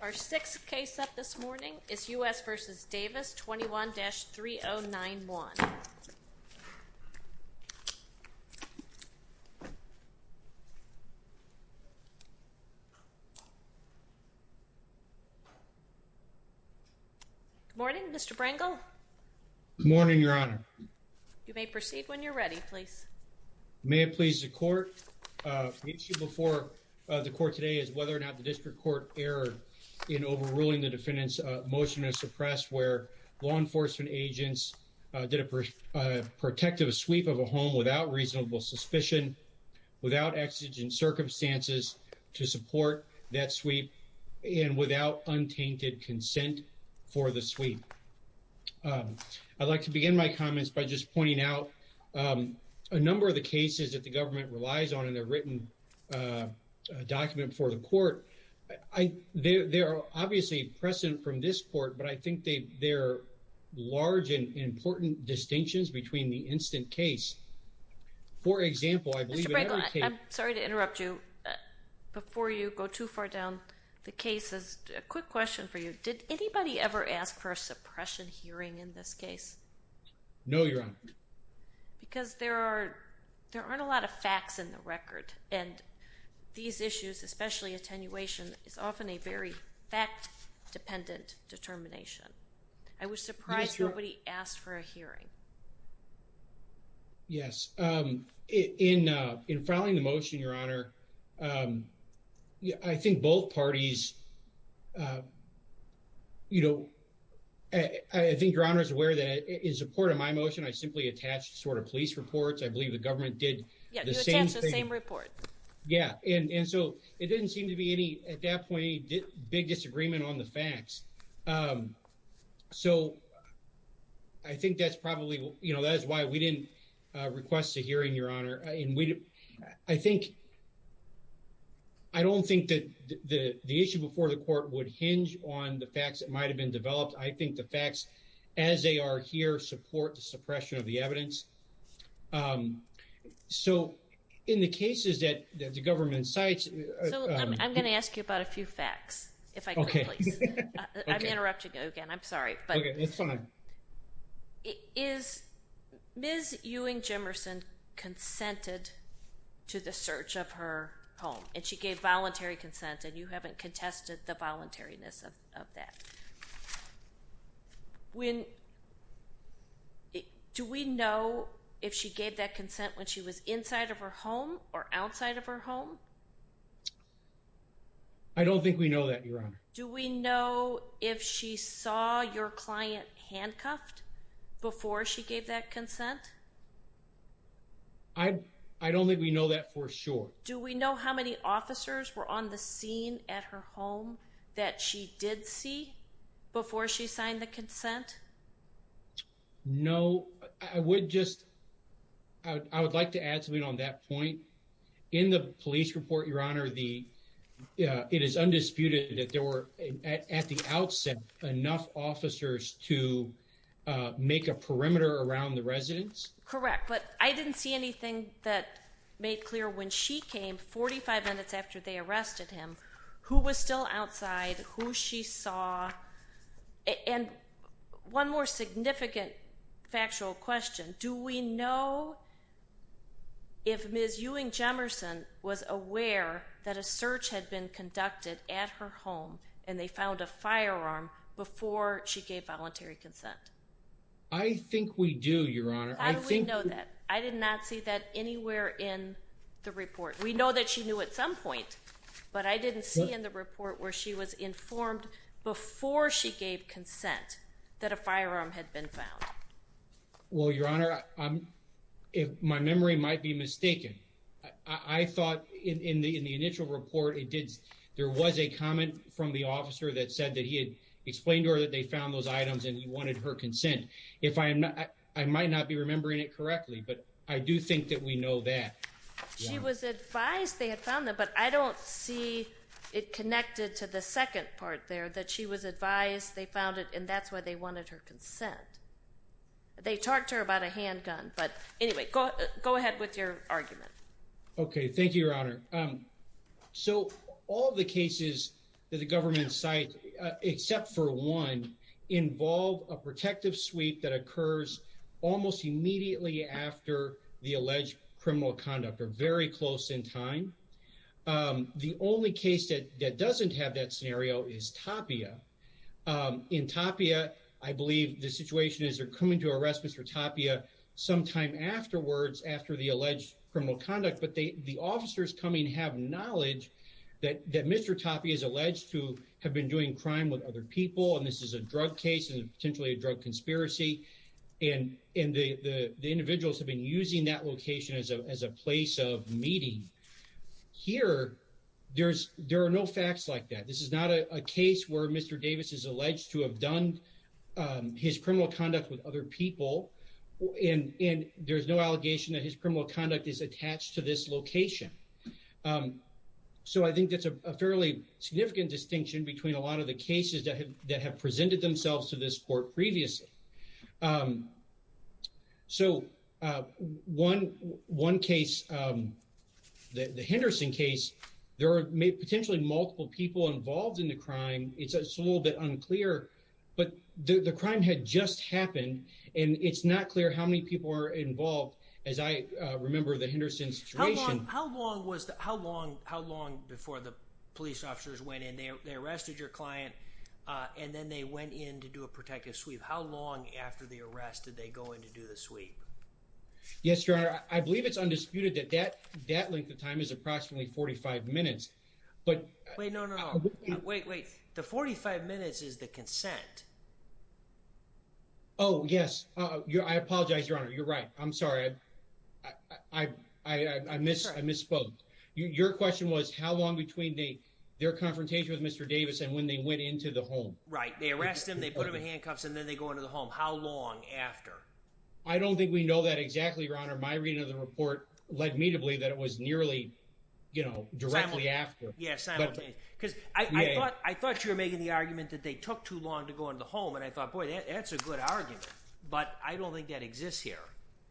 Our sixth case up this morning is U.S. v. Davis, 21-3091. Good morning, Mr. Brangle. Good morning, Your Honor. You may proceed when you're ready, please. May it please the Court. The issue before the Court today is whether or not the District Court erred in overruling the defendant's motion to suppress where law enforcement agents did a protective sweep of a home without reasonable suspicion, without exigent circumstances to support that sweep, and without untainted consent for the sweep. I'd like to begin my comments by just pointing out a number of the cases that the government relies on in their written document before the Court. They're obviously present from this Court, but I think they're large and important distinctions between the instant case. Mr. Brangle, I'm sorry to interrupt you. Before you go too far down the cases, a quick question for you. Did anybody ever ask for a suppression hearing in this case? No, Your Honor. Because there aren't a lot of facts in the record, and these issues, especially attenuation, is often a very fact-dependent determination. I was surprised nobody asked for a hearing. Yes. In filing the motion, Your Honor, I think both parties, you know, I think Your Honor is aware that in support of my motion, I simply attached sort of police reports. I believe the government did the same thing. Yeah, you attached the same report. Yeah, and so it didn't seem to be any, at that point, big disagreement on the facts. So, I think that's probably, you know, that's why we didn't request a hearing, Your Honor. I think, I don't think that the issue before the Court would hinge on the facts that might have been developed. I think the facts as they are here support the suppression of the evidence. So, in the cases that the government cites… So, I'm going to ask you about a few facts, if I could, please. I'm interrupting you again, I'm sorry. Okay, it's fine. Is, Ms. Ewing Jimerson consented to the search of her home, and she gave voluntary consent, and you haven't contested the voluntariness of that. When, do we know if she gave that consent when she was inside of her home or outside of her home? I don't think we know that, Your Honor. Do we know if she saw your client handcuffed before she gave that consent? I don't think we know that for sure. Do we know how many officers were on the scene at her home that she did see before she signed the consent? No, I would just, I would like to add something on that point. In the police report, Your Honor, it is undisputed that there were, at the outset, enough officers to make a perimeter around the residence? Correct, but I didn't see anything that made clear when she came, 45 minutes after they arrested him, who was still outside, who she saw. And one more significant factual question. Do we know if Ms. Ewing Jimerson was aware that a search had been conducted at her home, and they found a firearm before she gave voluntary consent? I think we do, Your Honor. How do we know that? I did not see that anywhere in the report. We know that she knew at some point, but I didn't see in the report where she was informed before she gave consent that a firearm had been found. Well, Your Honor, my memory might be mistaken. I thought in the initial report, there was a comment from the officer that said that he had explained to her that they found those items and he wanted her consent. I might not be remembering it correctly, but I do think that we know that. She was advised they had found them, but I don't see it connected to the second part there, that she was advised they found it, and that's why they wanted her consent. They talked to her about a handgun, but anyway, go ahead with your argument. Okay, thank you, Your Honor. So, all the cases that the government cites, except for one, involve a protective sweep that occurs almost immediately after the alleged criminal conduct, or very close in time. The only case that doesn't have that scenario is Tapia. In Tapia, I believe the situation is they're coming to arrest Mr. Tapia sometime afterwards after the alleged criminal conduct, but the officers coming have knowledge that Mr. Tapia is alleged to have been doing crime with other people, and this is a drug case and potentially a drug conspiracy, and the individuals have been using that location as a place of meeting. Here, there are no facts like that. This is not a case where Mr. Davis is alleged to have done his criminal conduct with other people, and there's no allegation that his criminal conduct is attached to this location. So I think that's a fairly significant distinction between a lot of the cases that have presented themselves to this court previously. So, one case, the Henderson case, there are potentially multiple people involved in the crime. It's a little bit unclear, but the crime had just happened, and it's not clear how many people were involved, as I remember the Henderson situation. How long before the police officers went in? They arrested your client, and then they went in to do a protective sweep. How long after the arrest did they go in to do the sweep? Yes, Your Honor. I believe it's undisputed that that length of time is approximately 45 minutes. Wait, no, no, no. Wait, wait. The 45 minutes is the consent. Oh, yes. I apologize, Your Honor. You're right. I'm sorry. I misspoke. Your question was how long between their confrontation with Mr. Davis and when they went into the home. Right. They arrest him, they put him in handcuffs, and then they go into the home. How long after? I don't think we know that exactly, Your Honor. My reading of the report led me to believe that it was nearly, you know, directly after. Simultaneously. Yes, simultaneously. Because I thought you were making the argument that they took too long to go into the home, and I thought, boy, that's a good argument. But I don't think that exists here.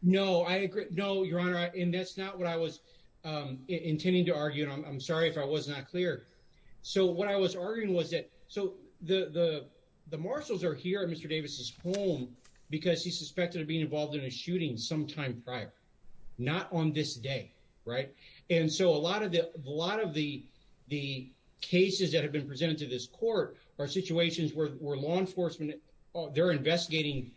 No, I agree. No, Your Honor, and that's not what I was intending to argue, and I'm sorry if I was not clear. So what I was arguing was that so the marshals are here at Mr. Davis's home because he's suspected of being involved in a shooting sometime prior, not on this day. Right. And so a lot of the cases that have been presented to this court are situations where law enforcement, they're investigating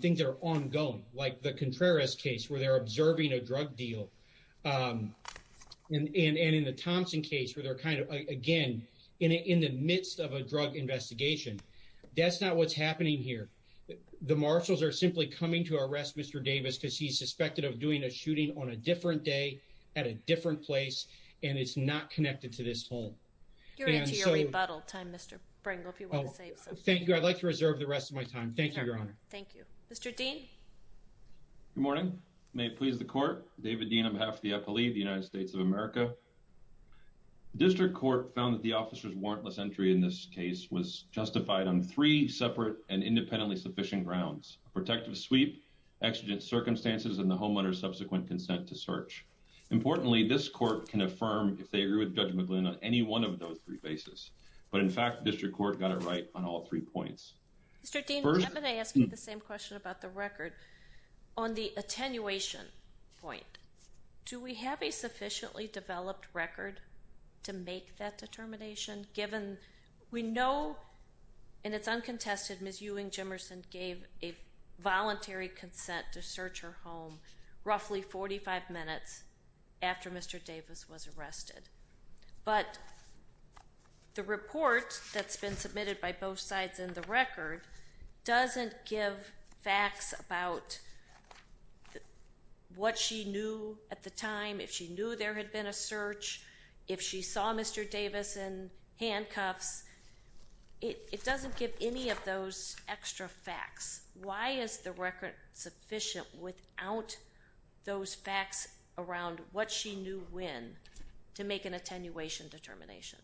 things that are ongoing, like the Contreras case where they're observing a drug deal. And in the Thompson case where they're kind of, again, in the midst of a drug investigation, that's not what's happening here. The marshals are simply coming to arrest Mr. Davis because he's suspected of doing a shooting on a different day at a different place, and it's not connected to this home. You're into your rebuttal time, Mr. Pringle, if you want to say something. Thank you. I'd like to reserve the rest of my time. Thank you, Your Honor. Thank you. Mr. Dean. Good morning. May it please the court. David Dean on behalf of the FLE, the United States of America. District Court found that the officer's warrantless entry in this case was justified on three separate and independently sufficient grounds. Protective sweep, exigent circumstances, and the homeowner's subsequent consent to search. Importantly, this court can affirm if they agree with Judge McGlynn on any one of those three bases. But in fact, district court got it right on all three points. Mr. Dean, I'm going to ask you the same question about the record. On the attenuation point, do we have a sufficiently developed record to make that determination, given we know, and it's uncontested, Ms. Ewing Jimmerson gave a voluntary consent to search her home roughly 45 minutes after Mr. Davis was arrested. But the report that's been submitted by both sides in the record doesn't give facts about what she knew at the time, if she knew there had been a search, if she saw Mr. Davis in handcuffs. It doesn't give any of those extra facts. Why is the record sufficient without those facts around what she knew when to make an attenuation determination?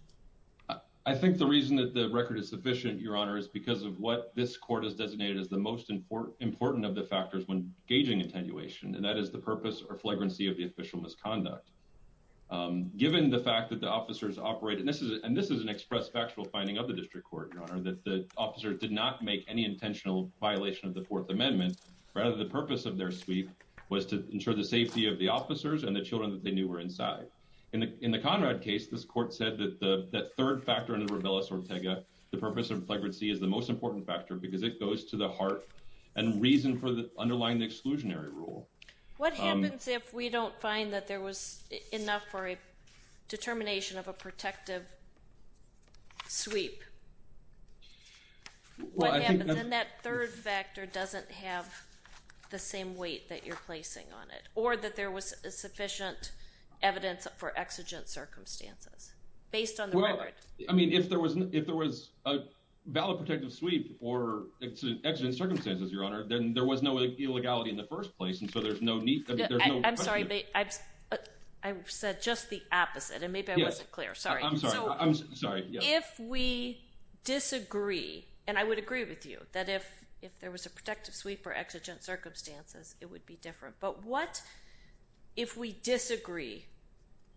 I think the reason that the record is sufficient, Your Honor, is because of what this court has designated as the most important of the factors when gauging attenuation, and that is the purpose or flagrancy of the official misconduct. Given the fact that the officers operate, and this is an express factual finding of the district court, Your Honor, that the officer did not make any intentional violation of the Fourth Amendment, rather the purpose of their sweep was to ensure the safety of the officers and the children that they knew were inside. In the Conrad case, this court said that the third factor in the rebellious Ortega, the purpose of flagrancy is the most important factor because it goes to the heart and reason for the underlying exclusionary rule. What happens if we don't find that there was enough for a determination of a protective sweep? What happens if that third factor doesn't have the same weight that you're placing on it, or that there was sufficient evidence for exigent circumstances based on the record? If there was a valid protective sweep or exigent circumstances, Your Honor, then there was no illegality in the first place, and so there's no need. I'm sorry. I said just the opposite, and maybe I wasn't clear. Sorry. I'm sorry. I'm sorry. If we disagree, and I would agree with you that if there was a protective sweep or exigent circumstances, it would be different. But what if we disagree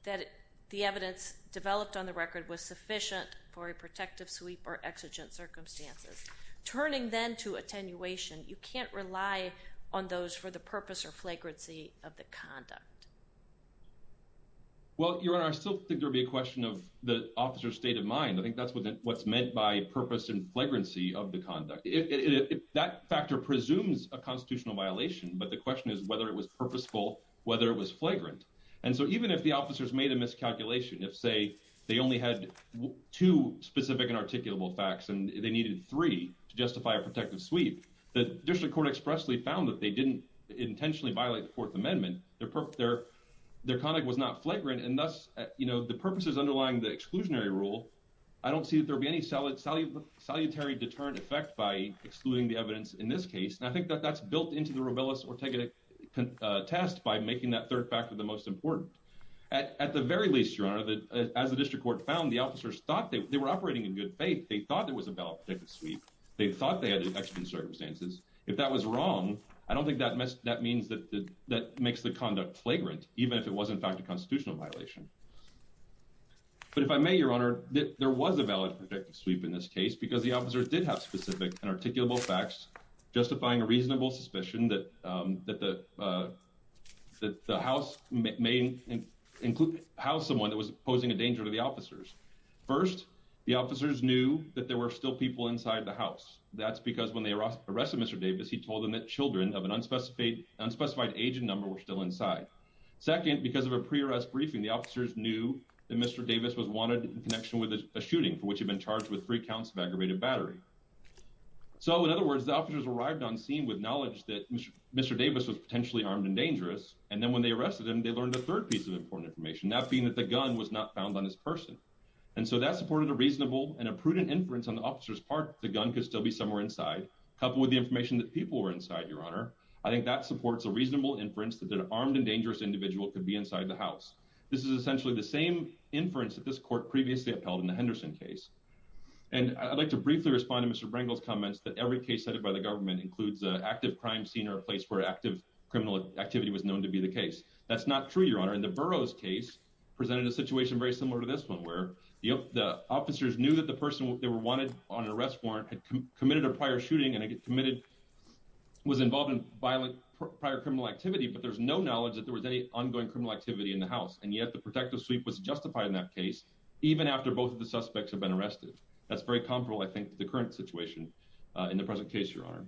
that the evidence developed on the record was sufficient for a protective sweep or exigent circumstances? Turning then to attenuation, you can't rely on those for the purpose or flagrancy of the conduct. Well, Your Honor, I still think there would be a question of the officer's state of mind. I think that's what's meant by purpose and flagrancy of the conduct. That factor presumes a constitutional violation, but the question is whether it was purposeful, whether it was flagrant. And so even if the officers made a miscalculation, if, say, they only had two specific and articulable facts and they needed three to justify a protective sweep, the district court expressly found that they didn't intentionally violate the Fourth Amendment. Their conduct was not flagrant, and thus, you know, the purposes underlying the exclusionary rule, I don't see that there'll be any salutary deterrent effect by excluding the evidence in this case. And I think that that's built into the Robillus Ortega test by making that third factor the most important. At the very least, Your Honor, as the district court found, the officers thought they were operating in good faith. They thought there was a valid protective sweep. They thought they had an extra circumstances. If that was wrong, I don't think that that means that that makes the conduct flagrant, even if it was, in fact, a constitutional violation. But if I may, Your Honor, there was a valid protective sweep in this case because the officers did have specific and articulable facts, justifying a reasonable suspicion that that the that the house may include how someone that was posing a danger to the officers. First, the officers knew that there were still people inside the house. That's because when they arrested Mr. Davis, he told them that children of an unspecified age and number were still inside. Second, because of a pre-arrest briefing, the officers knew that Mr. Davis was wanted in connection with a shooting for which he'd been charged with three counts of aggravated battery. So, in other words, the officers arrived on scene with knowledge that Mr. Davis was potentially armed and dangerous. And then when they arrested him, they learned a third piece of important information, not being that the gun was not found on this person. And so that supported a reasonable and a prudent inference on the officer's part. The gun could still be somewhere inside, coupled with the information that people were inside. Your Honor, I think that supports a reasonable inference that an armed and dangerous individual could be inside the house. This is essentially the same inference that this court previously upheld in the Henderson case. And I'd like to briefly respond to Mr. Davis' question. I think it's important to note that this particular case set up by the government includes an active crime scene or a place where active criminal activity was known to be the case. That's not true, Your Honor. And the Burroughs case presented a situation very similar to this one, where the officers knew that the person they were wanted on an arrest warrant had committed a prior shooting and was involved in violent prior criminal activity. But there's no knowledge that there was any ongoing criminal activity in the house. And yet the protective suite was justified in that case, even after both of the suspects have been arrested. That's very comparable, I think, to the current situation in the present case, Your Honor.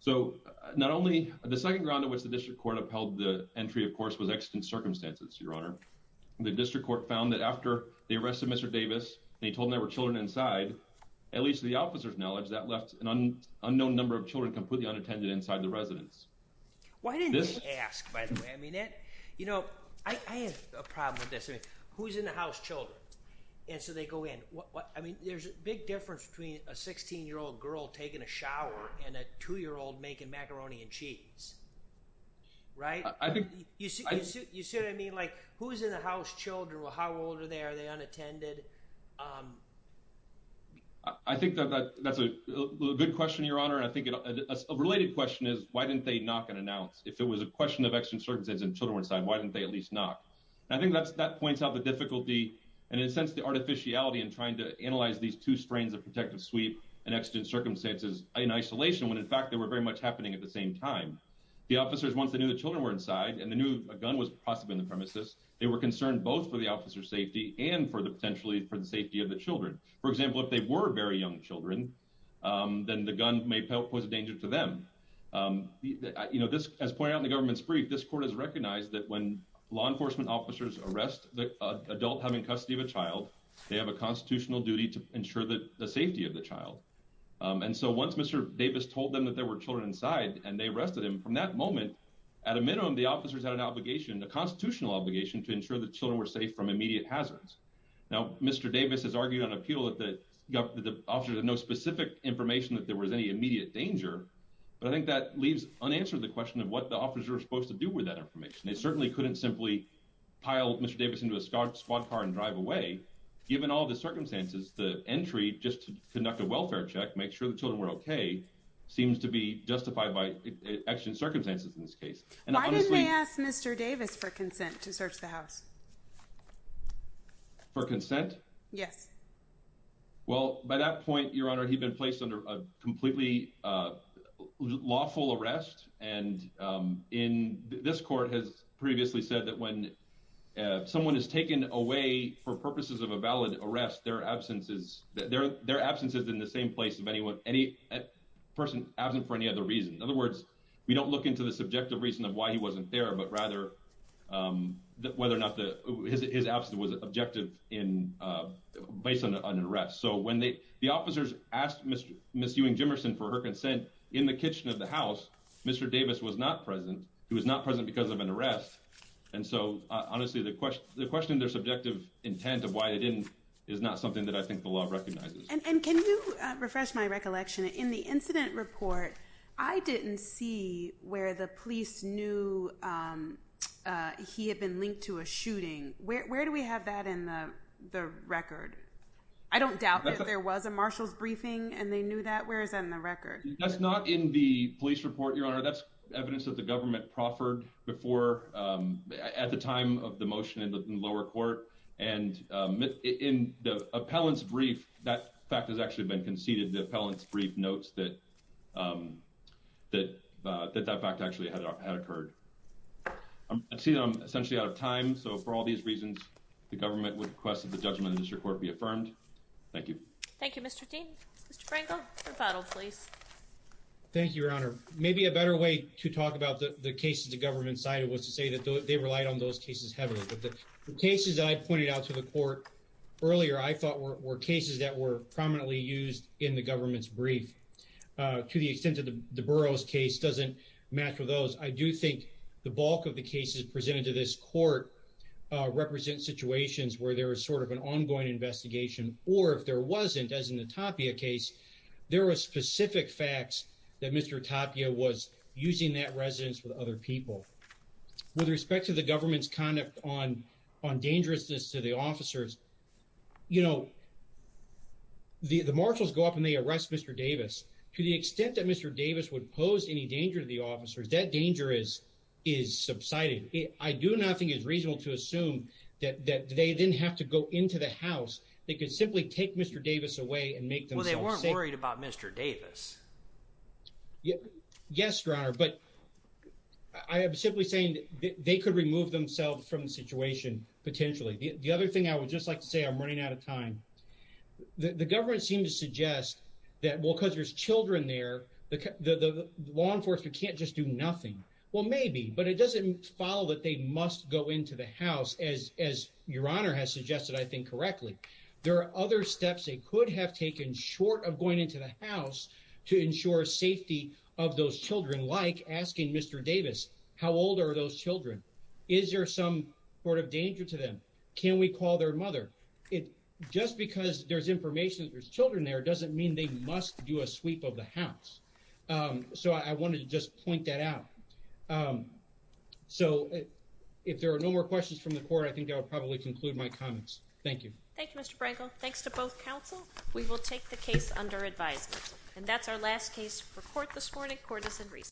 So, not only, the second ground on which the district court upheld the entry, of course, was extant circumstances, Your Honor. The district court found that after they arrested Mr. Davis and he told them there were children inside, at least to the officer's knowledge, that left an unknown number of children completely unattended inside the residence. Why didn't they ask, by the way? I mean, you know, I have a problem with this. Who's in the house children? And so they go in. I mean, there's a big difference between a 16-year-old girl taking a shower and a two-year-old making macaroni and cheese. Right? You see what I mean? Like, who's in the house children? How old are they? Are they unattended? I think that's a good question, Your Honor, and I think a related question is why didn't they knock and announce? If it was a question of extant circumstances and children were inside, why didn't they at least knock? I think that points out the difficulty and, in a sense, the artificiality in trying to analyze these two strains of protective sweep and extant circumstances in isolation when, in fact, they were very much happening at the same time. The officers, once they knew the children were inside and they knew a gun was possibly on the premises, they were concerned both for the officer's safety and potentially for the safety of the children. For example, if they were very young children, then the gun may pose a danger to them. You know, as pointed out in the government's brief, this court has recognized that when law enforcement officers arrest the adult having custody of a child, they have a constitutional duty to ensure the safety of the child. And so once Mr. Davis told them that there were children inside and they arrested him, from that moment, at a minimum, the officers had an obligation, a constitutional obligation, to ensure that children were safe from immediate hazards. Now, Mr. Davis has argued on appeal that the officers had no specific information that there was any immediate danger, but I think that leaves unanswered the question of what the officers were supposed to do with that information. They certainly couldn't simply pile Mr. Davis into a squad car and drive away. Given all the circumstances, the entry just to conduct a welfare check, make sure the children were okay, seems to be justified by exigent circumstances in this case. Why didn't they ask Mr. Davis for consent to search the house? For consent? Yes. Well, by that point, Your Honor, he'd been placed under a completely lawful arrest. And this court has previously said that when someone is taken away for purposes of a valid arrest, their absence is in the same place of any person absent for any other reason. In other words, we don't look into the subjective reason of why he wasn't there, but rather whether or not his absence was objective based on an arrest. So when the officers asked Ms. Ewing-Jimerson for her consent in the kitchen of the house, Mr. Davis was not present. He was not present because of an arrest. And so, honestly, the question of their subjective intent of why they didn't is not something that I think the law recognizes. And can you refresh my recollection? In the incident report, I didn't see where the police knew he had been linked to a shooting. Where do we have that in the record? I don't doubt that there was a marshal's briefing and they knew that. Where is that in the record? That's not in the police report, Your Honor. That's evidence that the government proffered at the time of the motion in the lower court. And in the appellant's brief, that fact has actually been conceded. The appellant's brief notes that that fact actually had occurred. I see that I'm essentially out of time. So for all these reasons, the government would request that the judgment of the district court be affirmed. Thank you. Thank you, Mr. Dean. Mr. Frankel, rebuttal, please. Thank you, Your Honor. Maybe a better way to talk about the cases the government cited was to say that they relied on those cases heavily. But the cases I pointed out to the court earlier I thought were cases that were prominently used in the government's brief. To the extent that the Burroughs case doesn't match with those, I do think the bulk of the cases presented to this court represent situations where there was sort of an ongoing investigation. Or if there wasn't, as in the Tapia case, there were specific facts that Mr. Tapia was using that residence with other people. With respect to the government's conduct on dangerousness to the officers, you know, the marshals go up and they arrest Mr. Davis. To the extent that Mr. Davis would pose any danger to the officers, that danger is subsided. I do not think it's reasonable to assume that they didn't have to go into the house. They could simply take Mr. Davis away and make themselves safe. Well, they weren't worried about Mr. Davis. Yes, Your Honor, but I am simply saying that they could remove themselves from the situation, potentially. The other thing I would just like to say, I'm running out of time. The government seemed to suggest that, well, because there's children there, the law enforcement can't just do nothing. Well, maybe, but it doesn't follow that they must go into the house, as Your Honor has suggested, I think, correctly. There are other steps they could have taken, short of going into the house, to ensure safety of those children. Like asking Mr. Davis, how old are those children? Is there some sort of danger to them? Can we call their mother? Just because there's information that there's children there doesn't mean they must do a sweep of the house. So, I wanted to just point that out. So, if there are no more questions from the Court, I think I will probably conclude my comments. Thank you. Thank you, Mr. Brangle. Thanks to both counsel. We will take the case under advisement. And that's our last case for court this morning. Court is in recess.